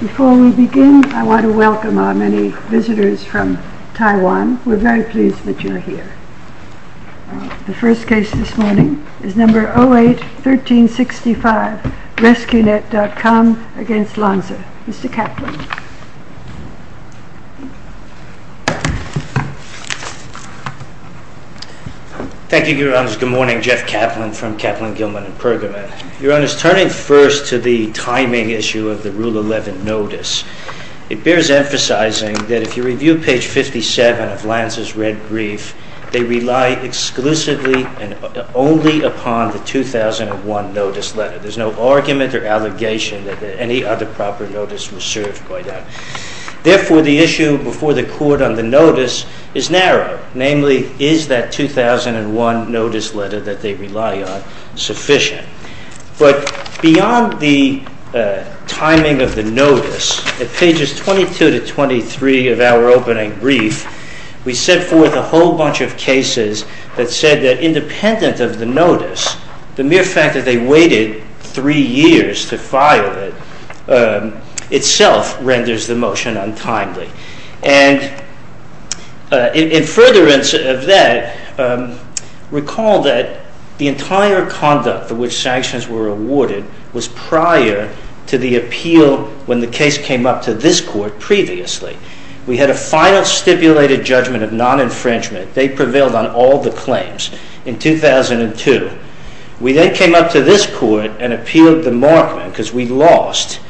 Before we begin, I want to welcome our many visitors from Taiwan. We are very pleased that you are here. The first case this morning is number 08-1365 Resqnet.com v. Lansa. Mr. Kaplan from Kaplan, Gilman & Pergamon. Your Honor, turning first to the timing issue of the Rule 11 notice, it bears emphasizing that if you review page 57 of Lansa's red brief, they rely exclusively and only upon the 2001 notice letter. There is no argument or allegation that any other proper notice was served by that. Therefore, the issue before the Court on the notice is narrow. Namely, is that 2001 notice letter that they rely on sufficient? But beyond the timing of the notice, at pages 22-23 of our opening brief, we set forth a whole bunch of cases that said that independent of the notice, the mere fact that they waited three years to file it, itself renders the motion untimely. And in furtherance of that, recall that the entire conduct for which sanctions were awarded was prior to the appeal when the case came up to this Court previously. We had a final stipulated judgment of non-infringement. They prevailed on all the claims in 2002. We then came up to this Court and appealed the Markman because we lost,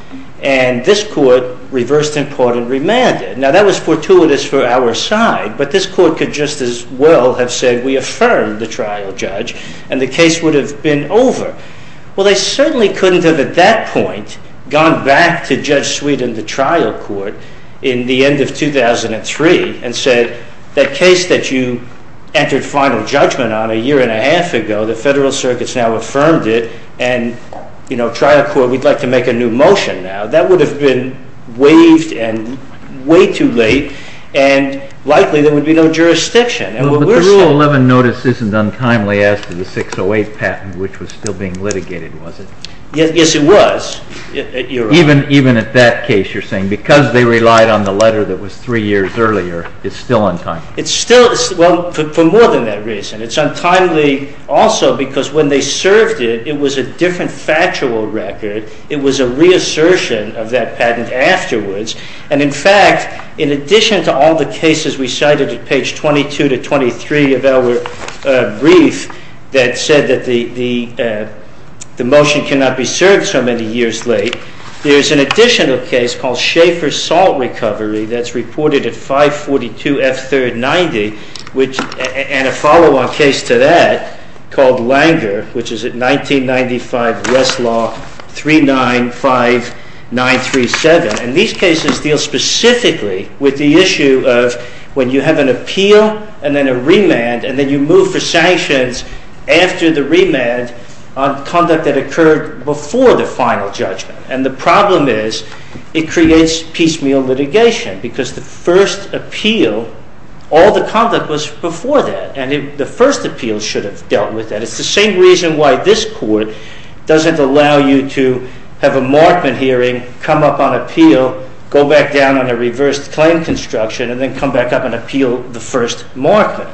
and this Court reversed in part and remanded. Now that was fortuitous for our side, but this Court could just as well have said we affirmed the trial judge and the case would have been over. Well, they certainly couldn't have at that point gone back to Judge Sweet in the trial court in the end of 2003 and said, that case that you entered final judgment on a year and a half ago, the Federal Circuit's now affirmed it, and you know, trial court, we'd like to make a new motion now. That would have been waived and way too late, and likely there would be no jurisdiction. But the Rule 11 notice isn't untimely as to the 608 patent which was still being litigated, was it? Yes, it was. Even at that case, you're saying because they relied on the letter that was three years earlier, it's still untimely? It's still, well, for more than that reason. It's untimely also because when they served it, it was a different factual record. It was a reassertion of that patent afterwards, and in fact, in addition to all the cases we cited at page 22 to 23 of our brief that said that the motion cannot be served so many years late, there's an additional case called Schaeffer Salt Recovery that's reported at 542 F. 3rd 90, and a follow-on case to that called Langer, which is at 1995 Westlaw 395937, and these cases deal specifically with the issue of when you have an appeal and then a remand, and then you move for sanctions after the remand on conduct that occurred before the final judgment, and the problem is it creates piecemeal litigation because the first appeal, all the conduct was before that, and the first appeal should have dealt with that. It's the same reason why this hearing, come up on appeal, go back down on a reversed claim construction, and then come back up and appeal the first market.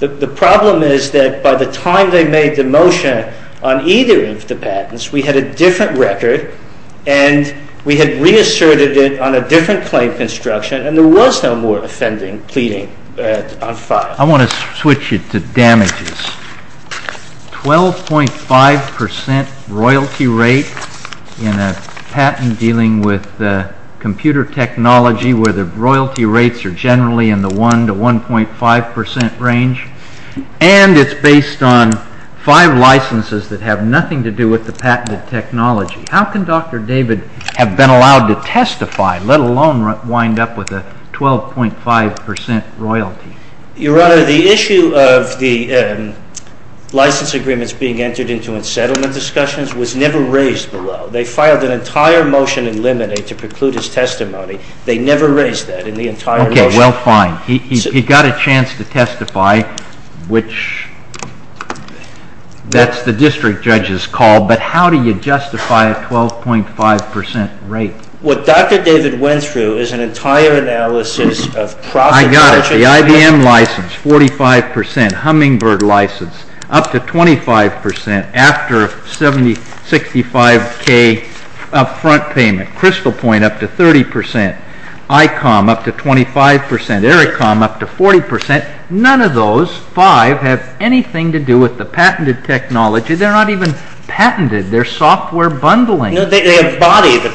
The problem is that by the time they made the motion on either of the patents, we had a different record, and we had reasserted it on a different claim construction, and there was no more offending, pleading on file. I want to switch it to damages. 12.5 percent royalty rate in a patent dealing with computer technology where the royalty rates are generally in the 1 to 1.5 percent range, and it's based on five licenses that have nothing to do with the patented technology. How can Dr. David have been allowed to testify, let alone wind up with a 12.5 percent royalty? Your Honor, the issue of the license agreements being entered into unsettlement discussions was never raised below. They filed an entire motion in limine to preclude his testimony. They never raised that in the entire motion. Okay, well, fine. He got a chance to testify, which that's the district judge's call, but how do you justify a 12.5 percent rate? What Dr. David went through is an entire analysis of profit margin. I got it. The IBM license, 45 percent. Hummingbird license, up to 25 percent after 75K up front payment. Crystal Point, up to 30 percent. ICOM, up to 25 percent. Ericcom, up to 40 percent. None of those five have anything to do with the patented technology. They're not even patented. They're software bundling. No, they embody the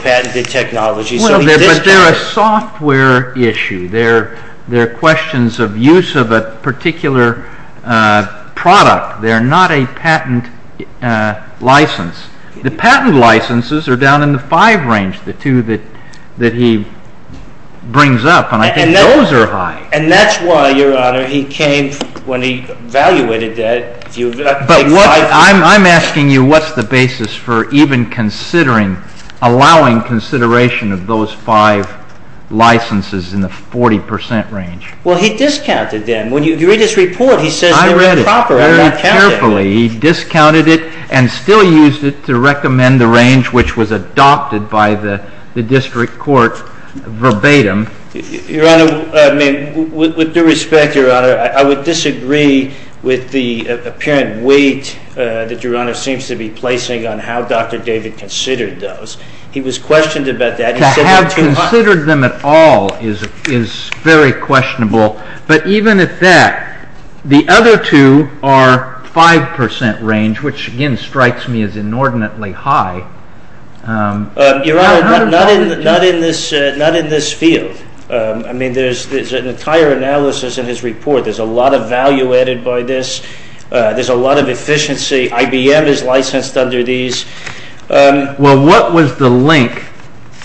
software issue. They're questions of use of a particular product. They're not a patent license. The patent licenses are down in the five range, the two that he brings up, and I think those are high. And that's why, Your Honor, he came when he evaluated that. But I'm asking you what's the basis for even considering, allowing consideration of those five licenses in the 40 percent range? Well, he discounted them. When you read his report, he says they're improper. I read it very carefully. He discounted it and still used it to recommend the range which was adopted by the district court verbatim. Your Honor, I mean, with due respect, Your Honor, I would disagree with the apparent weight that Your Honor seems to be placing on how Dr. David considered those. He was questioned about that. To have considered them at all is very questionable. But even at that, the other two are five percent range, which again strikes me as inordinately high. Your Honor, not in this field. I mean, there's an entire analysis in his report. There's a lot of value added by this. There's a lot of efficiency. IBM is licensed under these. Well, what was the link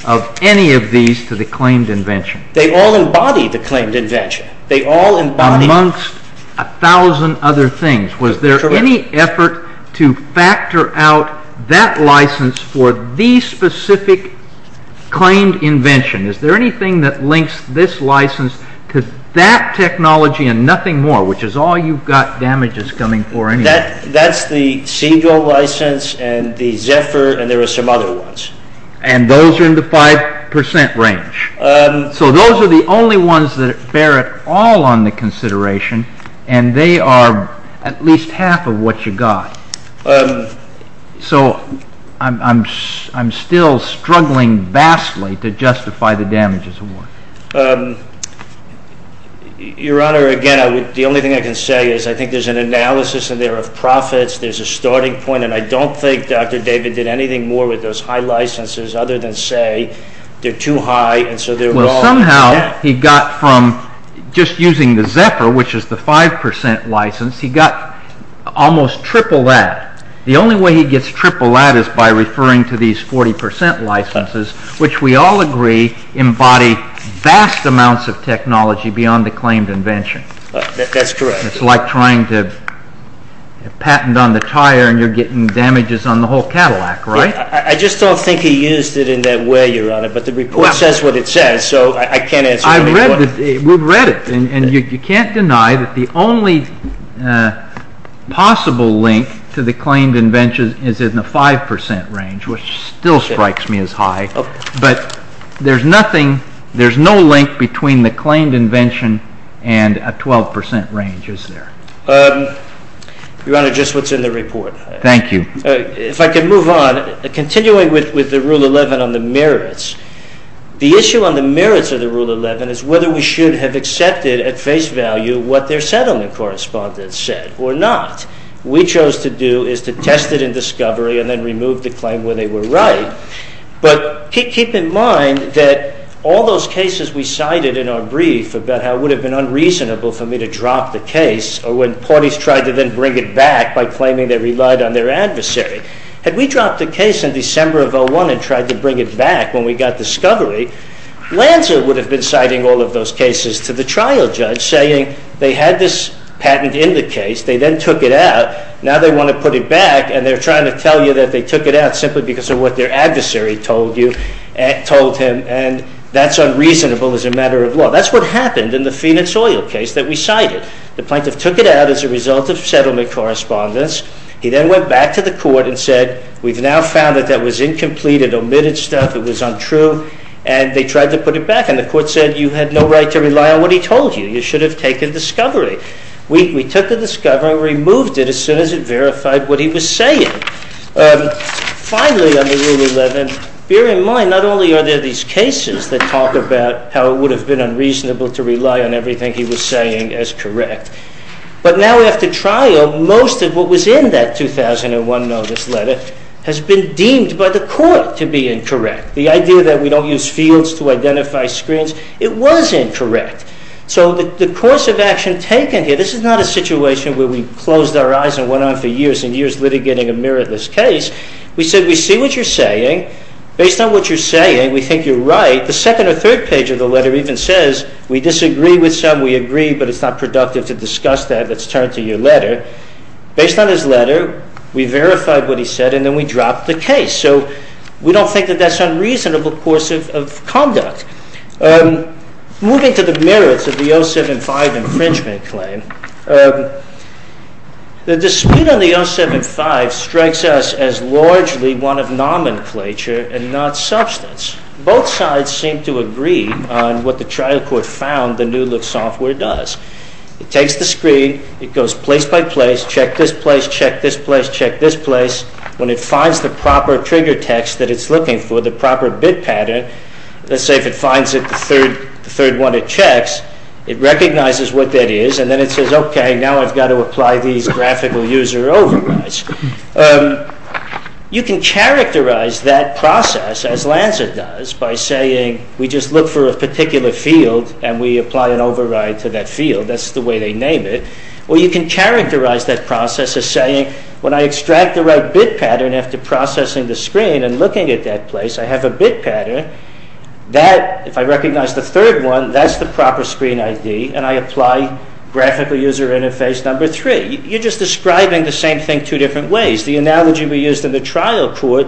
of any of these to the claimed invention? They all embody the claimed invention. They all embody Amongst a thousand other things. Was there any effort to factor out that license for the specific claimed invention? Is there anything that links this license to that technology and nothing more? Which is all you've got damages coming for anyway. That's the Siegel license and the Zephyr and there are some other ones. And those are in the five percent range. So those are the only ones that bear it all on the consideration and they are at least half of what you got. So I'm still struggling vastly to say. I think there's an analysis in there of profits. There's a starting point. And I don't think Dr. David did anything more with those high licenses other than say they're too high. Well, somehow he got from just using the Zephyr, which is the five percent license, he got almost triple that. The only way he gets triple that is by referring to these 40 percent licenses, which we all agree embody vast amounts of technology beyond the claimed invention. That's correct. It's like trying to patent on the tire and you're getting damages on the whole Cadillac, right? I just don't think he used it in that way, Your Honor, but the report says what it says. So I can't answer. I read it. And you can't deny that the only possible link to the claimed invention is in the five percent range, which still strikes me as high. But there's nothing, there's no link between the claimed invention and a 12 percent range, is there? Your Honor, just what's in the report. Thank you. If I could move on, continuing with the Rule 11 on the merits, the issue on the merits of the Rule 11 is whether we should have accepted at face value what their settlement correspondence said or not. We chose to do is to test it in discovery and then remove the claim where they were right. But keep in mind that all those cases we cited in our brief about how it would have been unreasonable for me to drop the case or when parties tried to then bring it back by claiming they relied on their adversary. Had we dropped the case in December of 2001 and tried to bring it back when we got discovery, Lanza would have been citing all of those cases to the trial judge saying they had this patent in the case, they then took it out, now they want to put it back and they're trying to tell you that they took it out simply because of what their adversary told you, told him, and that's unreasonable as a matter of law. That's what happened in the Phoenix oil case that we cited. The plaintiff took it out as a result of settlement correspondence. He then went back to the court and said, we've now found that that was incomplete, it omitted stuff, it was untrue, and they tried to put it back. And the court said you had no right to rely on what he told you. You should have taken discovery. We took the discovery, removed it as soon as it verified what he was saying. Finally, on the Rule 11, bear in mind not only are there these cases that talk about how it would have been unreasonable to rely on everything he was saying as correct, but now after trial most of what was in that 2001 notice letter has been deemed by the court to be incorrect. The idea that we don't use fields to identify screens, it was incorrect. So the course of action taken here, this is not a situation where we closed our eyes and went on for years and years litigating a meritless case. We said, we see what you're saying. Based on what you're saying, we think you're right. The second or third page of the letter even says we disagree with some, we agree, but it's not productive to discuss that. Let's turn to your letter. Based on his letter, we verified what he said and then we dropped the case. So we don't think that that's unreasonable course of conduct. Moving to the merits of the 07-5 infringement claim, the dispute on the 07-5 strikes us as largely one of nomenclature and not substance. Both sides seem to agree on what the trial court found the New Look software does. It takes the screen, it goes place by place, check this place, check this place, check this place. When it finds the proper trigger text that it's looking for, the proper bit pattern, let's say if it finds it the third one it checks, it recognizes what that is and then it says, okay, now I've got to apply these graphical user overrides. You can characterize that process as Lanza does by saying we just look for a particular field and we apply an override to that field, that's the way they name it. Or you can characterize that process as saying when I extract the right bit pattern after processing the screen and looking at that place, I have a bit pattern that if I recognize the third one, that's the proper screen ID and I apply graphical user interface number three. You're just describing the same thing two different ways. The analogy we used in the trial court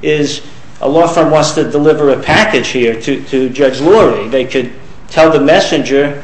is a law firm wants to deliver a package here to Judge Lorry. They could tell the messenger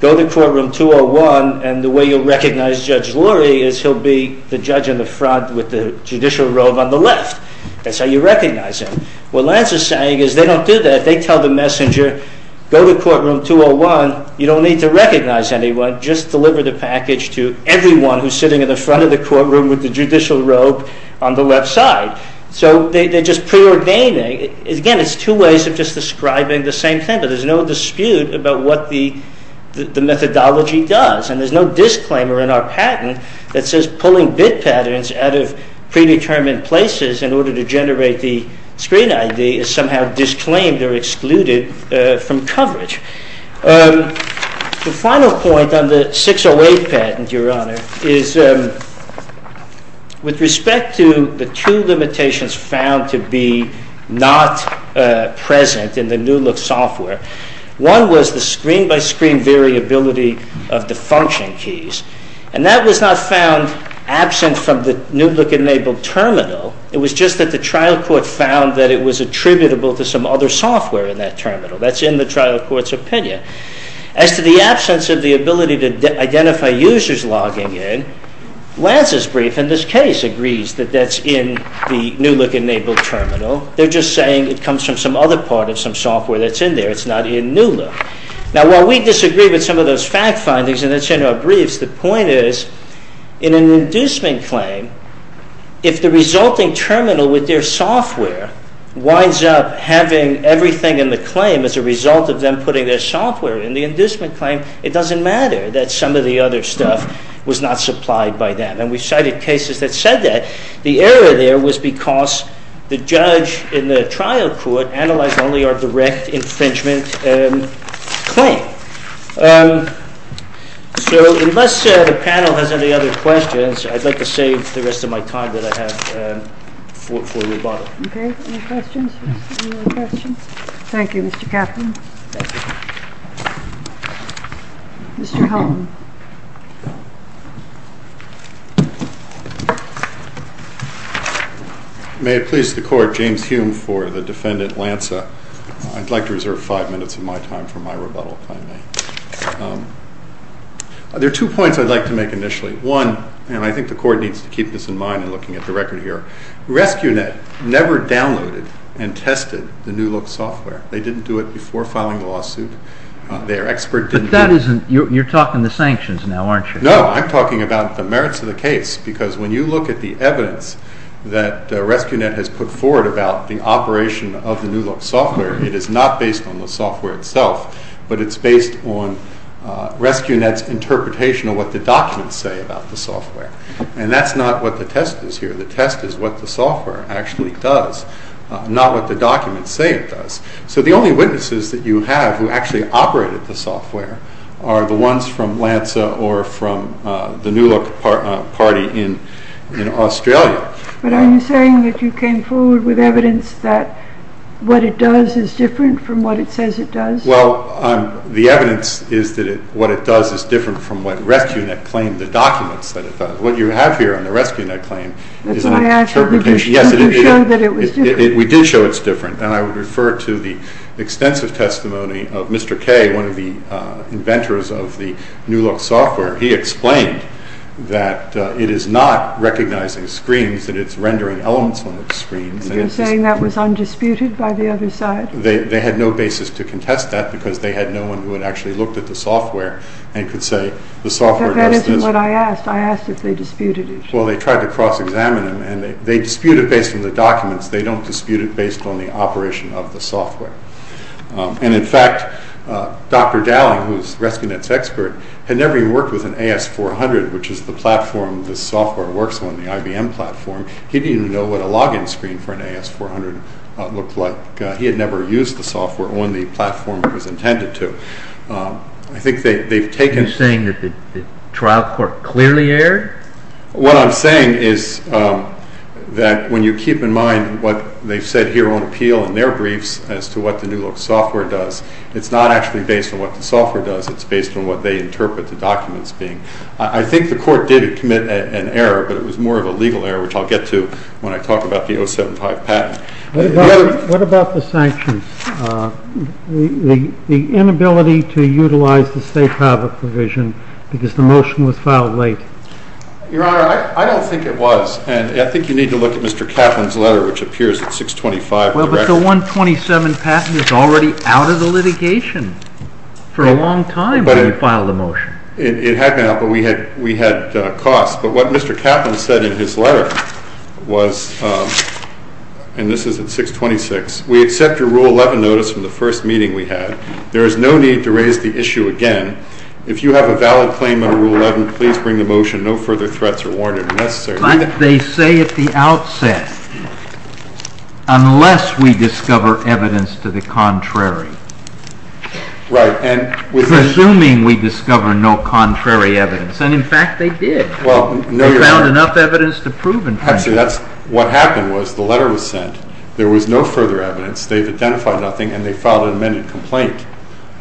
go to courtroom 201 and the way you'll recognize Judge Lorry is he'll be the judge in the front with the judicial robe on the left. That's how you recognize him. What Lanza is saying is they don't do that. They tell the messenger go to courtroom 201, you don't need to recognize anyone, just deliver the package to everyone who's sitting in the front of the courtroom with the judicial robe on the left side. So they're just preordaining. Again, it's two ways of just describing the same thing, but there's no dispute about what the methodology does and there's no disclaimer in our patent that says pulling bit patterns out of the screen ID is somehow disclaimed or excluded from coverage. The final point on the 608 patent, Your Honor, is with respect to the two limitations found to be not present in the New Look software, one was the screen by screen variability of the function keys and that was not found absent from the New Look enabled terminal. It was just that the trial court found that it was attributable to some other software in that terminal. That's in the trial court's opinion. As to the absence of the ability to identify users logging in, Lanza's brief in this case agrees that that's in the New Look enabled terminal. They're just saying it comes from some other part of some software that's in there. It's not in New Look. Now while we disagree with some of those fact findings and that's in our briefs, the point is in an inducement claim, if the resulting terminal with their software winds up having everything in the claim as a result of them putting their software in the inducement claim, it doesn't matter that some of the other stuff was not supplied by them. And we've cited cases that said that. The error there was because the judge in the trial court analyzed only our direct infringement claim. So unless the panel has any other questions, I'd like to save the rest of my time that I have for rebuttal. Okay, any questions? Thank you, Mr. Kaplan. Thank you. Mr. Helton. May it please the court, James Hume for the defendant Lanza. I'd like to reserve five minutes of my time for my rebuttal, if I may. There are two points I'd like to make initially. One, and I think the court needs to keep this in mind in looking at the record here, Rescunet never downloaded and tested the New Look software. They didn't do it before filing the lawsuit. Their expert didn't do it. But you're talking the sanctions now, aren't you? No, I'm talking about the merits of the case, because when you look at the evidence that Rescunet has put forward about the operation of the New Look software, it is not based on the software itself, but it's based on Rescunet's interpretation of what the documents say about the software. And that's not what the test is here. The test is what the software actually does, not what the documents say it does. So the only witnesses that you have who actually operated the software are the ones from Lanza or from the New Look party in Australia. But are you saying that you came forward with evidence that what it does is different from what it says it does? Well, the evidence is that what it does is different from what Rescunet claimed, the documents that it does. What you have here on the Rescunet claim is an interpretation. That's why I said you showed that it was different. We did show it's different. And I would refer to the extensive testimony of Mr. Kay, one of the inventors of the New Look software. He explained that it is not recognizing screens, that it's rendering elements on the screen. You're saying that was undisputed by the other side? They had no basis to contest that, because they had no one who had actually looked at the software and could say the software does what I asked. I asked if they disputed it. Well, they tried to cross-examine them, and they dispute it based on the documents. They don't dispute it based on the operation of the software. And in fact, Dr. Dowling, who is Rescunet's expert, had never even worked with an AS-400, which is the platform this software works on, the IBM platform. He didn't even know what a login screen for an AS-400 looked like. He had never used the software on the platform it was intended to. I think they've taken... You're saying that the trial court clearly erred? What I'm saying is that when you keep in mind what they've said here on appeal in their briefs as to what the New Look software does, it's not actually based on what the software does, it's based on what they interpret the documents being. I think the court did commit an error, but it was more of a legal error, which I'll get to when I talk about the 075 patent. What about the sanctions? The inability to utilize the state private provision because the motion was filed late? Your Honor, I don't think it was, and I think you need to look at Mr. Kaplan's letter, which appears at 625. Well, but the 127 patent is already out of the litigation for a long time when you filed the motion. It had been out, but we had costs. But what Mr. Kaplan said in his letter was, and this is at 626, we accept your Rule 11 notice from the first meeting we had. There is no need to raise the issue again. If you have a valid claim under Rule 11, please bring the motion. No further threats are warranted, unless there... But they say at the outset, unless we discover evidence to the contrary. Right, and... Presuming we discover no contrary evidence, and in fact they did. Well, no... We found enough evidence to prove infringement. Actually, that's what happened was the letter was sent. There was no further evidence. They've identified nothing, and they filed an amended complaint.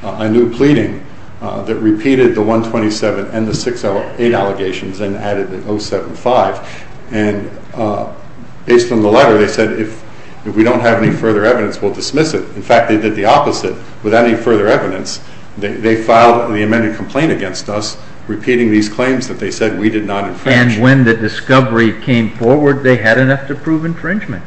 I knew pleading that repeated the 127 and the 608 allegations and added the 075. And based on the letter, they said if we don't have any further evidence, we'll dismiss it. In fact, they did the opposite. Without any further evidence, they filed the amended complaint against us, repeating these claims that they said we did not infringe. And when the discovery came forward, they had enough to prove infringement.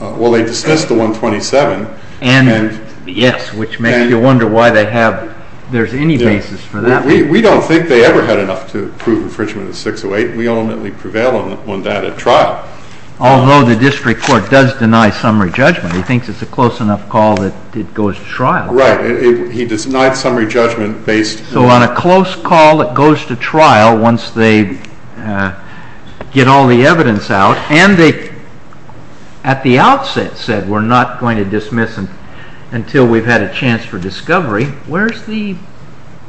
Well, they dismissed the 127 and... Yes, which makes you wonder why they have... There's any basis for that. We don't think they ever had enough to prove infringement of 608. We ultimately prevail on that at trial. Although the district court does deny summary judgment. He thinks it's a close enough call that it goes to trial. Right. He denied summary judgment based... So on a close call, it goes to trial once they get all the evidence out. And they, at the outset, said we're not going to dismiss until we've had a chance for discovery. Where's the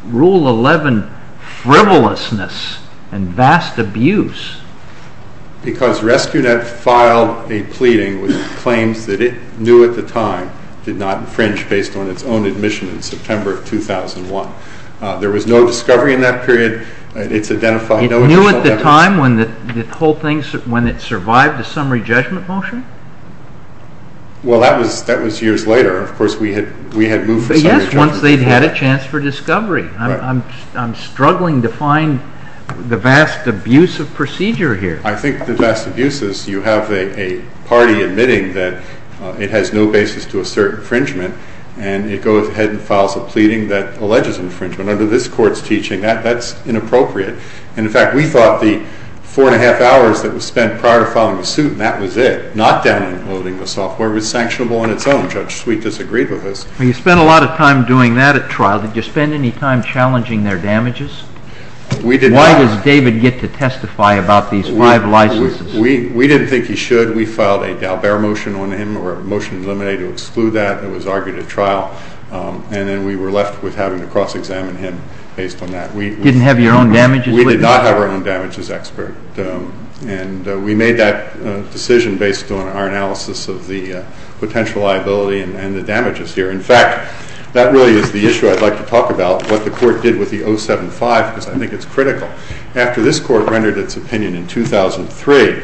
Rule 11 frivolousness and vast abuse? Because RescueNet filed a pleading with claims that it knew at the time did not infringe based on its own admission in September of 2001. There was no discovery in that period. It's identified... It knew at the time when the whole thing, when it survived the summary judgment motion? Well, that was years later. Of course, we had moved... Yes, once they'd had a chance for discovery. I'm struggling to find the vast abuse of procedure here. I think the vast abuse is you have a party admitting that it has no basis to assert infringement and it goes ahead and files a pleading that alleges infringement. Under this court's teaching, that's inappropriate. And in fact, we thought the four and a half hours that was spent prior to filing the suit, that was it. Not downloading the software was sanctionable on its own. Judge Sweet disagreed with us. You spent a lot of time doing that at trial. Did you spend any time challenging their damages? Why does David get to testify about these five licenses? We didn't think he should. We filed a Dalbert motion on him or a motion to eliminate or exclude that that was argued at trial. And then we were left with having to cross-examine him based on that. You didn't have your own damages? We did not have our own damages expert. And we made that decision based on our analysis of the potential liability and the damages here. In fact, that really is the issue I'd like to talk about, what the court did with the 075, because I think it's critical. After this court rendered its opinion in 2003,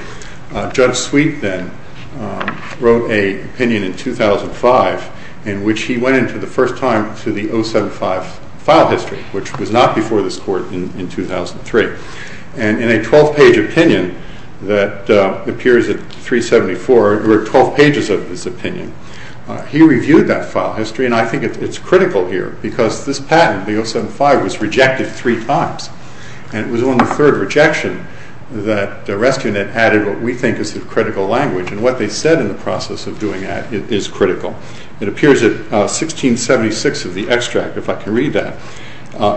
Judge Sweet then wrote an opinion in 2005 in which he went into the first time to the 075 file history, which was not before this court in 2003. And in a 12-page opinion that appears at 374, or 12 pages of his opinion, he reviewed that file history. And I think it's critical here because this patent, the 075, was rejected three times. And it was on the third rejection that RescueNet added what we think is the critical language. And what they said in the process of doing that is critical. It appears at 1676 of the extract, if I can read that.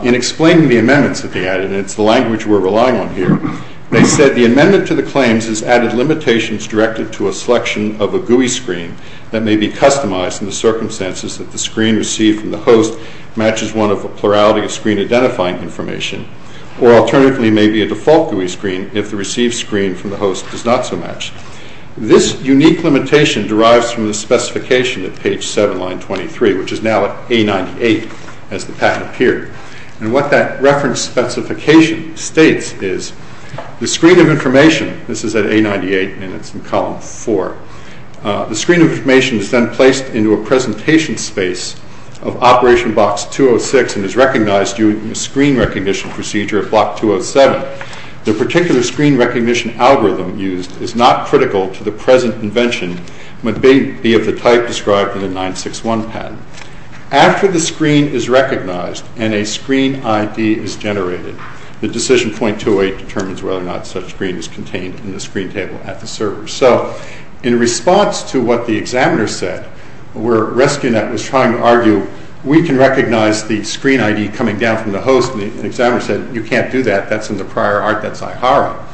In explaining the amendments that they added, and it's the language we're relying on here, they said, the amendment to the claims has added limitations directed to a selection of a GUI screen that may be customized in the circumstances that the screen received from the host matches one of a plurality of screen-identifying information, or alternatively may be a default GUI screen if the received screen from the host does not so match. This unique limitation derives from the specification at page 7, line 23, which is now at A98 as the patent appeared. And what that reference specification states is the screen of information, this is at A98, and it's in column 4. The screen of information is then placed into a presentation space of operation box 206 and is recognized using a screen recognition procedure at block 207. The particular screen recognition algorithm used is not critical to the present invention, but may be of the type described in the 961 patent. After the screen is recognized and a screen ID is generated, the decision .28 determines whether or not such screen is contained in the screen table at the server. So in response to what the examiner said, where Rescunet was trying to argue, we can recognize the screen ID coming down from the host, and the examiner said, you can't do that, that's in the prior art, that's IHARA.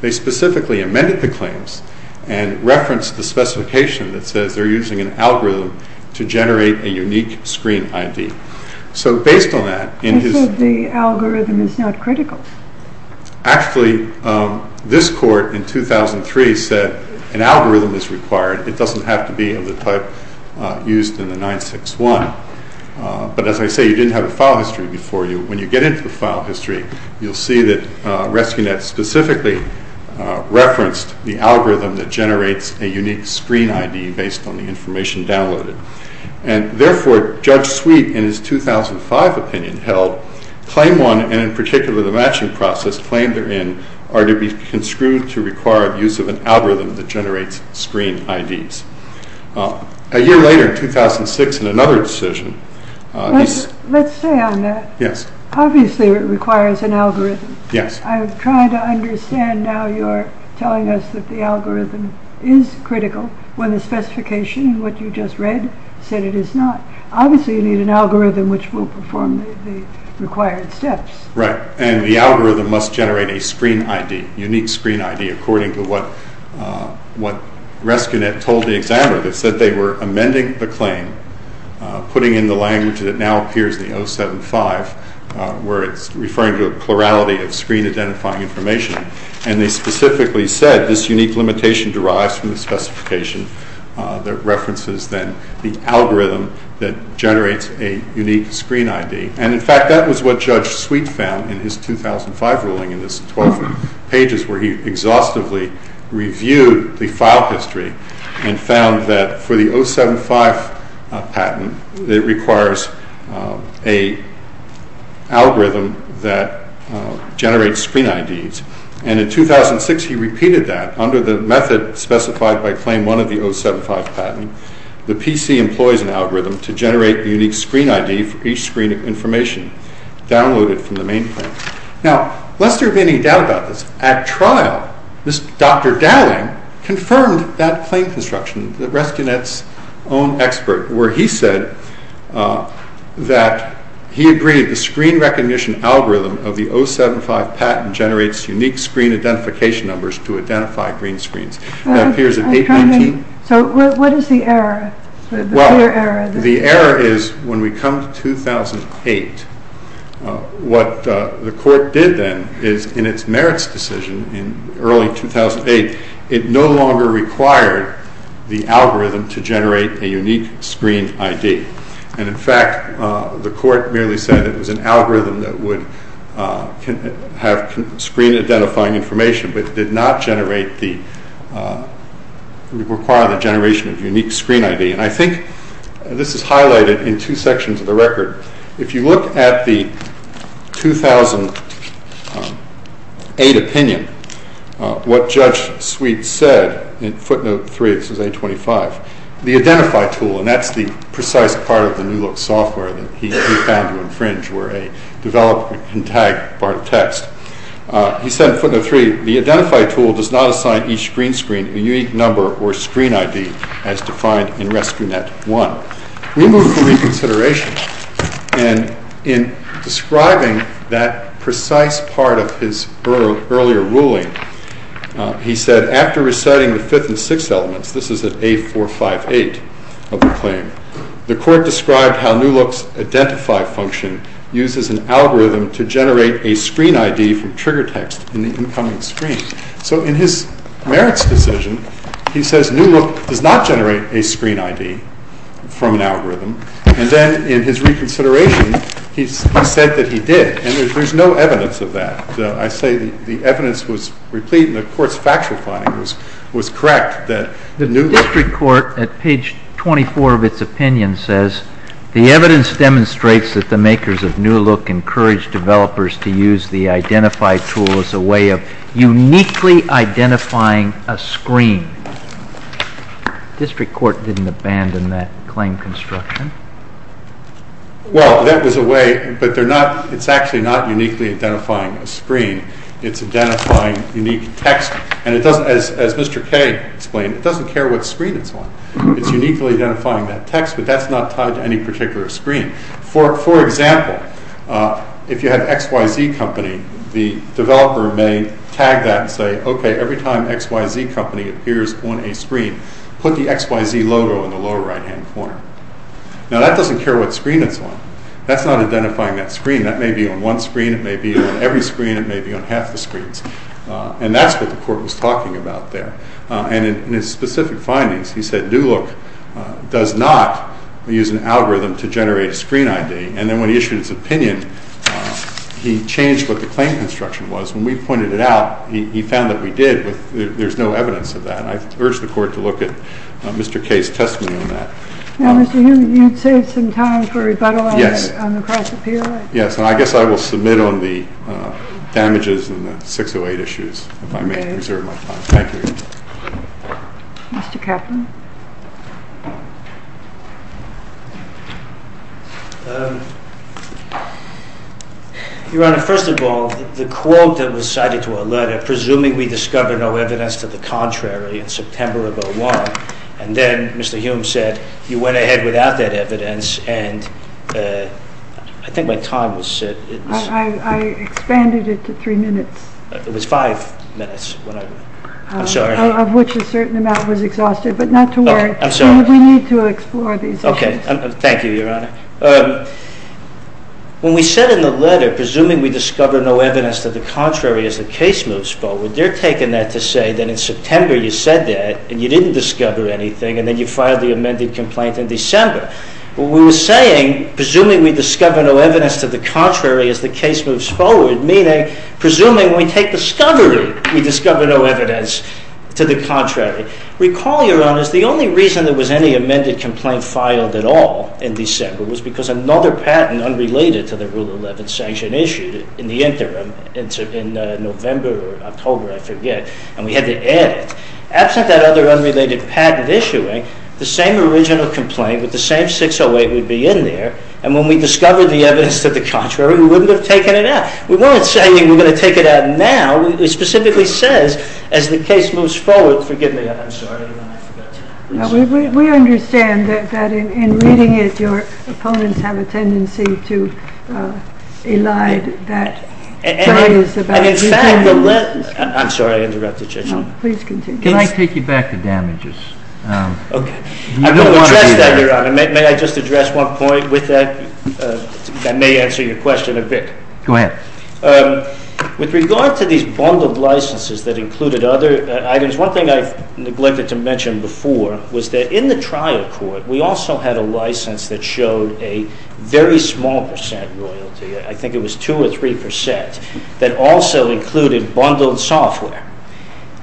They specifically amended the claims and referenced the specification that says they're using an algorithm to generate a unique screen ID. So based on that, in his- that's not critical. Actually, this court in 2003 said an algorithm is required, it doesn't have to be of the type used in the 961. But as I say, you didn't have a file history before you. When you get into the file history, you'll see that Rescunet specifically referenced the algorithm that generates a unique screen ID based on the information downloaded. And therefore, Judge Sweet, in his 2005 opinion held, claim one, and in particular the matching process claimed therein, are to be construed to require use of an algorithm that generates screen IDs. A year later, in 2006, in another decision- Let's stay on that. Yes. Obviously it requires an algorithm. Yes. I'm trying to understand now you're telling us that the algorithm is critical, when the specification, what you just read, said it is not. Obviously you need an algorithm which will perform the required steps. Right. And the algorithm must generate a screen ID, unique screen ID, according to what Rescunet told the examiner. They said they were amending the claim, putting in the language that now appears in the 075, where it's referring to a plurality of screen identifying information. And they specifically said this unique limitation derives from the specification that references then the algorithm that generates a unique screen ID. And in fact, that was what Judge Sweet found in his 2005 ruling in his 12 pages, where he exhaustively reviewed the file history and found that for the 075 patent, it requires a algorithm that generates screen IDs. And in 2006, he repeated that under the method specified by claim one of the 075 patent, the PC employs an algorithm to generate the unique screen ID for each screen information downloaded from the mainframe. Now, lest there be any doubt about this, at trial, this Dr. Dowling confirmed that claim construction, that Rescunet's own expert, where he said that he agreed the screen recognition algorithm of the 075 patent generates unique screen identification numbers to identify green screens. So what is the error? The error is when we come to 2008, what the court did then is in its merits decision in early 2008, it no longer required the algorithm to generate a unique screen ID. And in fact, the court merely said it was an algorithm that would have screen identifying information, but did not generate the, require the generation of unique screen ID. And I think this is highlighted in two sections of the record. If you look at the 2008 opinion, what Judge Sweet said in footnote three, this is 825, the identify tool, and that's the precise part of the new look software that he found to infringe where a developer can tag part of text. He said in footnote three, the identify tool does not assign each green screen a unique number or screen ID as defined in Rescunet one. We move to reconsideration. And in describing that precise part of his earlier ruling, he said, after reciting the fifth and six elements, this is at 8458 of the claim, the court described how new looks identify function uses an algorithm to generate a screen ID from trigger text in the incoming screen. So in his merits decision, he says, new look does not generate a screen ID from an algorithm. And then in his reconsideration, he said that he did, and there's no evidence of that. I say the evidence was replete, and the court's factual finding was correct. The district court at page 24 of its opinion says, the evidence demonstrates that the makers of new look encouraged developers to use the identify tool as a way of uniquely identifying a screen. District court didn't abandon that construction. Well, that was a way, but they're not, it's actually not uniquely identifying a screen. It's identifying unique text. And it doesn't, as Mr. K explained, it doesn't care what screen it's on. It's uniquely identifying that text, but that's not tied to any particular screen. For example, if you have XYZ company, the developer may tag that and say, okay, every time XYZ company appears on a screen, put the XYZ logo in the lower right-hand corner. Now that doesn't care what screen it's on. That's not identifying that screen. That may be on one screen. It may be on every screen. It may be on half the screens. And that's what the court was talking about there. And in his specific findings, he said, new look does not use an algorithm to generate a screen ID. And then when he issued his opinion, he changed what the claim construction was. When we pointed it out, he found that we did with, there's no evidence of that. I urge the court to look at Mr. K's testimony on that. Now, Mr. Newman, you'd save some time for rebuttal on the cross-appeal. Yes. And I guess I will submit on the damages and the 608 issues if I may reserve my time. Thank you. Mr. Kaplan. Your Honor, first of all, the quote that was cited to our letter, presuming we discover no evidence to the contrary in September of 01, and then Mr. Hume said, you went ahead without that evidence. And I think my time was set. I expanded it to three minutes. It was five minutes. I'm sorry. Of which a certain amount was exhausted, but not of which I was exhausted. We need to explore these issues. Okay. Thank you, Your Honor. When we said in the letter, presuming we discover no evidence to the contrary as the case moves forward, they're taking that to say that in September you said that, and you didn't discover anything, and then you filed the amended complaint in December. But we were saying, presuming we discover no evidence to the contrary as the case moves forward, meaning, presuming we take discovery, we discover no evidence to the contrary. Recall, Your Honors, the only reason there was any amended complaint filed at all in December was because another patent unrelated to the Rule 11 sanction issued in the interim in November or October, I forget, and we had to add it. Absent that other unrelated patent issuing, the same original complaint with the same 608 would be in there, and when we discovered the evidence to the contrary, we wouldn't have taken it out. We weren't saying we're going to take it out now. It specifically says, as the case moves forward, forgive me, I'm sorry. We understand that in reading it, your opponents have a tendency to elide that. I'm sorry, I interrupted you, Your Honor. Please continue. Can I take you back to damages? Okay. I'm going to address that, Your Honor. May I just address one point with that? That may answer your question a bit. Go ahead. With regard to these bundled licenses that included other items, one thing I've neglected to mention before was that in the trial court, we also had a license that showed a very small percent royalty. I think it was 2 or 3 percent that also included bundled software,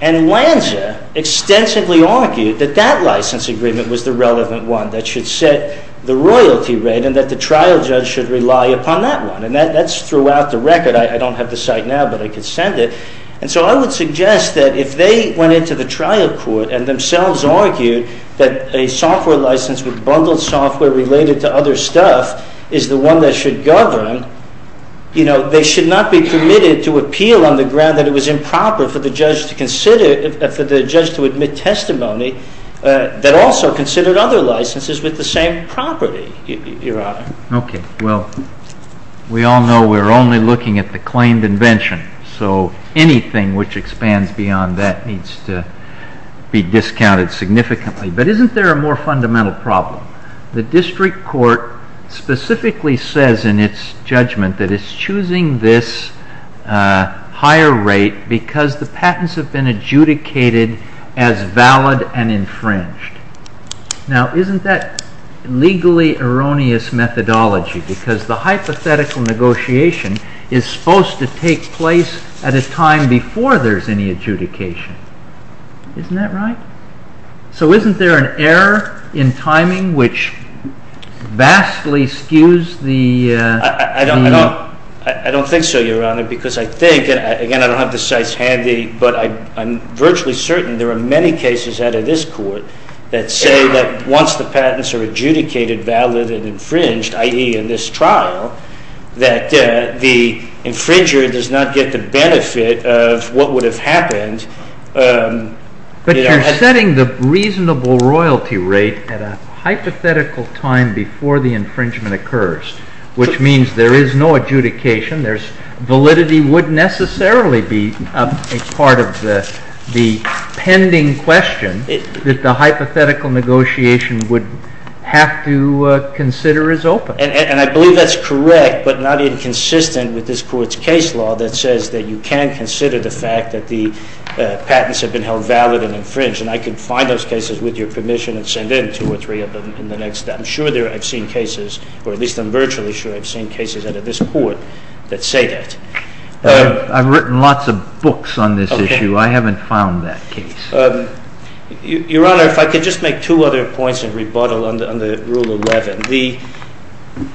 and Lanza extensively argued that that license agreement was the relevant one that should set the royalty rate and that the trial judge should rely upon that one, and that's throughout the record. I don't have the site now, but I could send it, and so I would suggest that if they went into the trial court and themselves argued that a software license with bundled software related to other stuff is the one that should govern, they should not be permitted to appeal on the ground that it was improper for the judge to consider, for the judge to admit testimony that also considered other licenses with the same property, Your Honor. Okay. Well, we all know we're only looking at the claimed invention, so anything which expands beyond that needs to be discounted significantly. But isn't there a more fundamental problem? The district court specifically says in its judgment that it's choosing this higher rate because the patents have been adjudicated as valid and infringed. Now, isn't that legally erroneous methodology? Because the hypothetical negotiation is supposed to take place at a time before there's any adjudication. Isn't that right? So isn't there an error in timing which vastly skews the... I don't think so, Your Honor, because I think, and again, I don't have the sites handy, but I'm virtually certain there are many cases out of this court that say that once the patents are adjudicated valid and infringed, i.e., in this trial, that the infringer does not get the benefit of what would have happened... But you're setting the reasonable royalty rate at a hypothetical time before the infringement occurs, which means there is no adjudication, validity wouldn't necessarily be a part of the pending question that the hypothetical negotiation would have to consider as open. And I believe that's correct, but not inconsistent with this Court's case law that says that you can consider the fact that the patents have been held valid and infringed, and I can find those cases with your permission and send in two or three of them in the next... I'm sure I've seen cases, or at least I'm virtually sure I've seen cases out of this court that say that. I've written lots of books on this issue. I haven't found that case. Your Honor, if I could just make two other points of rebuttal on the Rule 11. The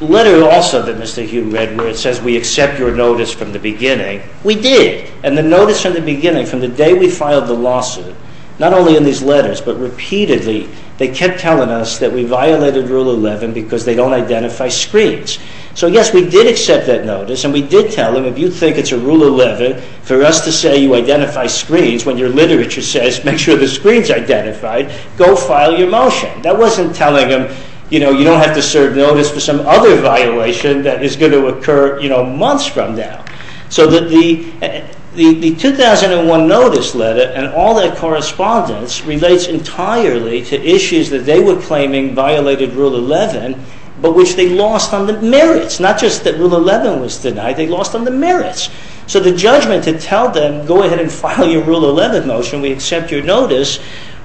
letter also that Mr. Hugh read where it says we accept your notice from the beginning, we did. And the notice from the beginning, from the day we filed the lawsuit, not only in these letters, but repeatedly, they kept telling us that we violated Rule 11 because they don't identify screens. So yes, we did accept that notice, and we did tell them if you think it's a Rule 11 for us to say you identify screens when your literature says make sure the screen's identified, go file your motion. That wasn't telling them, you know, you don't have to serve notice for some other violation that is going to occur, you know, months from now. So the 2001 notice letter and all that correspondence relates entirely to issues that they were claiming violated Rule 11, but which they lost on the notice that Rule 11 was denied, they lost on the merits. So the judgment to tell them go ahead and file your Rule 11 motion, we accept your notice,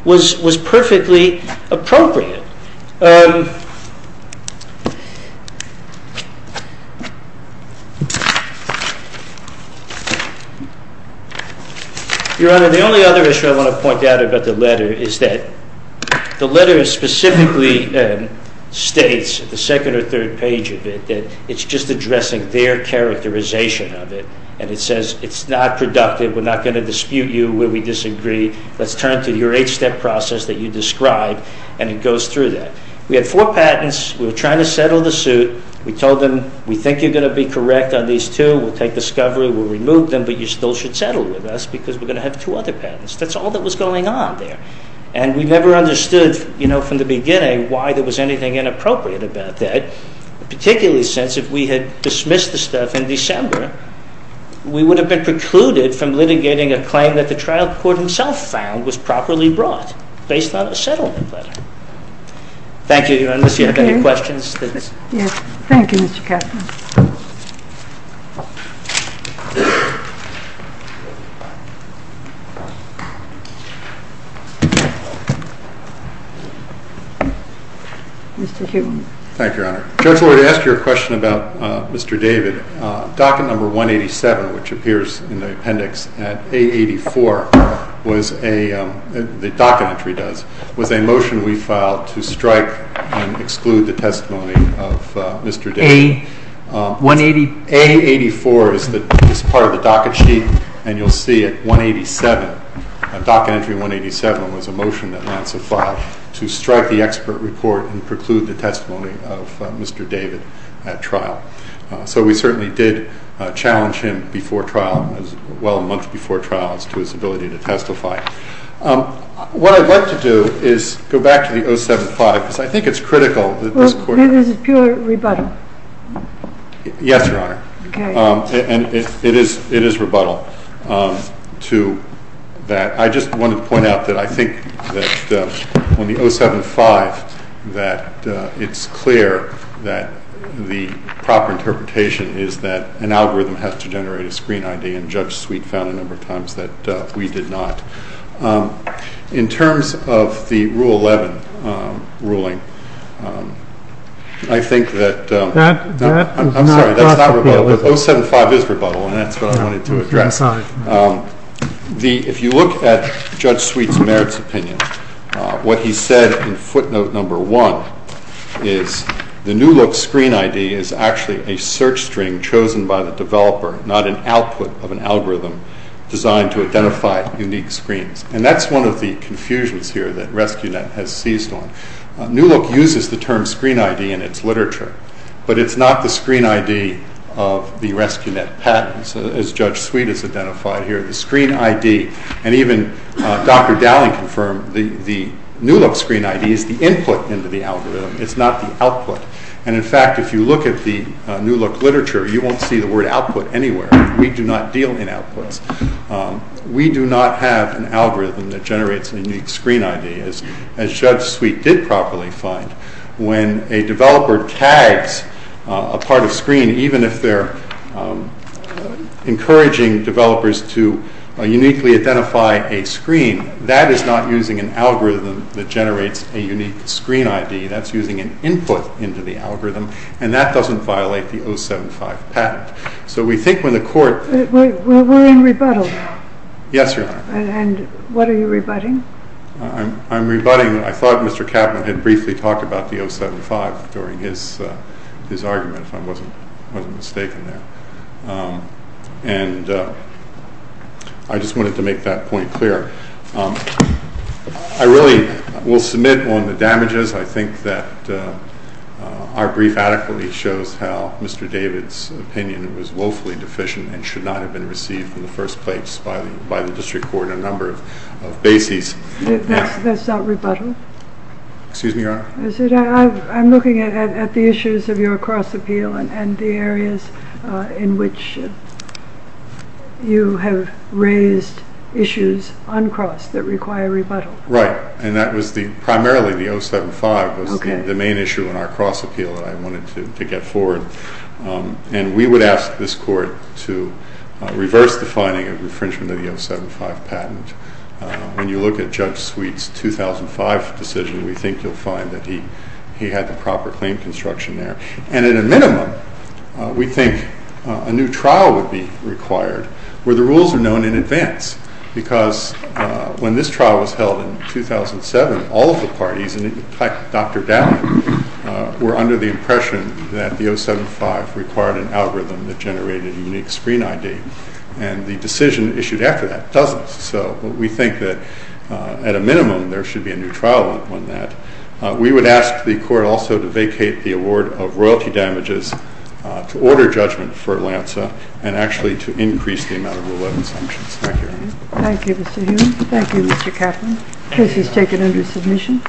was perfectly appropriate. Your Honor, the only other issue I want to point out about the letter is that the letter specifically states, the second or third page of it, that it's just addressing their characterization of it, and it says it's not productive, we're not going to dispute you where we disagree, let's turn to your eight-step process that you described, and it goes through that. We had four patents, we were trying to settle the suit, we told them we think you're going to be correct on these two, we'll take discovery, we'll remove them, but you still should settle with us because we're going to have two other patents. That's all that was going on there, and we never understood, you know, from the beginning why there was anything inappropriate about that, particularly since if we had dismissed the stuff in December, we would have been precluded from litigating a claim that the trial court himself found was properly brought, based on a settlement letter. Thank you, Your Honor, unless you have any questions. Yes, thank you, Mr. Kessler. Mr. Hume. Thank you, Your Honor. Judge Lloyd, I asked you a question about Mr. David. Docket number 187, which appears in the appendix at A84, the docket entry does, was a motion we filed to strike and exclude the testimony of Mr. David. A84 is part of the docket sheet, and you'll see at 187, docket entry 187 was a motion that lands a file to strike the expert report and preclude the testimony of Mr. David at trial. So we certainly did challenge him before trial, as well a month before trial, as to his ability to testify. What I'd like to do is go back to the 075, because I think it's critical that this court... Well, this is pure rebuttal. Yes, Your Honor, and it is rebuttal to that. I just wanted to point out that I think that on the 075 that it's clear that the proper interpretation is that an algorithm has to generate a screen ID, and Judge Sweet found a number of times that we did not. In terms of the Rule 11 ruling, I think that... I'm sorry, that's not rebuttal, but 075 is rebuttal, and that's what I wanted to address. If you look at Judge Sweet's merits opinion, what he said in footnote number one is, the new look screen ID is actually a search string chosen by the developer, not an output of an algorithm designed to identify unique screens. And that's one of the confusions here that RescueNet has seized on. New Look uses the term screen ID in its literature, but it's not the screen ID of the RescueNet patents, as Judge Sweet has identified here. The screen ID, and even Dr. Dowling confirmed, the new look screen ID is the input into the algorithm, it's not the output. And in fact, if you look at the New Look literature, you won't see the word output anywhere. We do not deal in a unique screen ID, as Judge Sweet did properly find. When a developer tags a part of screen, even if they're encouraging developers to uniquely identify a screen, that is not using an algorithm that generates a unique screen ID. That's using an input into the algorithm, and that doesn't violate the 075 patent. So we think when the court... We're in rebuttal. Yes, Your Honor. And what are you rebutting? I'm rebutting, I thought Mr. Kappman had briefly talked about the 075 during his argument, if I wasn't mistaken there. And I just wanted to make that point clear. I really will submit on the damages. I think that our brief adequately shows how Mr. David's opinion was woefully deficient and should not have been received in the first place by the District Court on a number of bases. That's not rebuttal? Excuse me, Your Honor? I'm looking at the issues of your cross appeal and the areas in which you have raised issues uncrossed that require rebuttal. Right. And that was primarily the 075 was the main issue in our cross appeal that I wanted to get forward. And we would ask this court to reverse the finding of infringement of the 075 patent. When you look at Judge Sweet's 2005 decision, we think you'll find that he had the proper claim construction there. And at a minimum, we think a new trial would be required where the rules are known in advance. Because when this trial was held in 2007, all of the parties, and in fact, Dr. Dowd, were under the impression that the 075 required an algorithm that generated unique screen ID. And the decision issued after that doesn't. So we think that at a minimum, there should be a new trial on that. We would ask the court also to vacate the award of royalty damages, to order judgment for Lanza, and actually to increase the amount of relevant sanctions. Thank you, Your Honor. Thank you, Mr. Hume. Thank you, Mr. Kaplan. Case is taken under submission.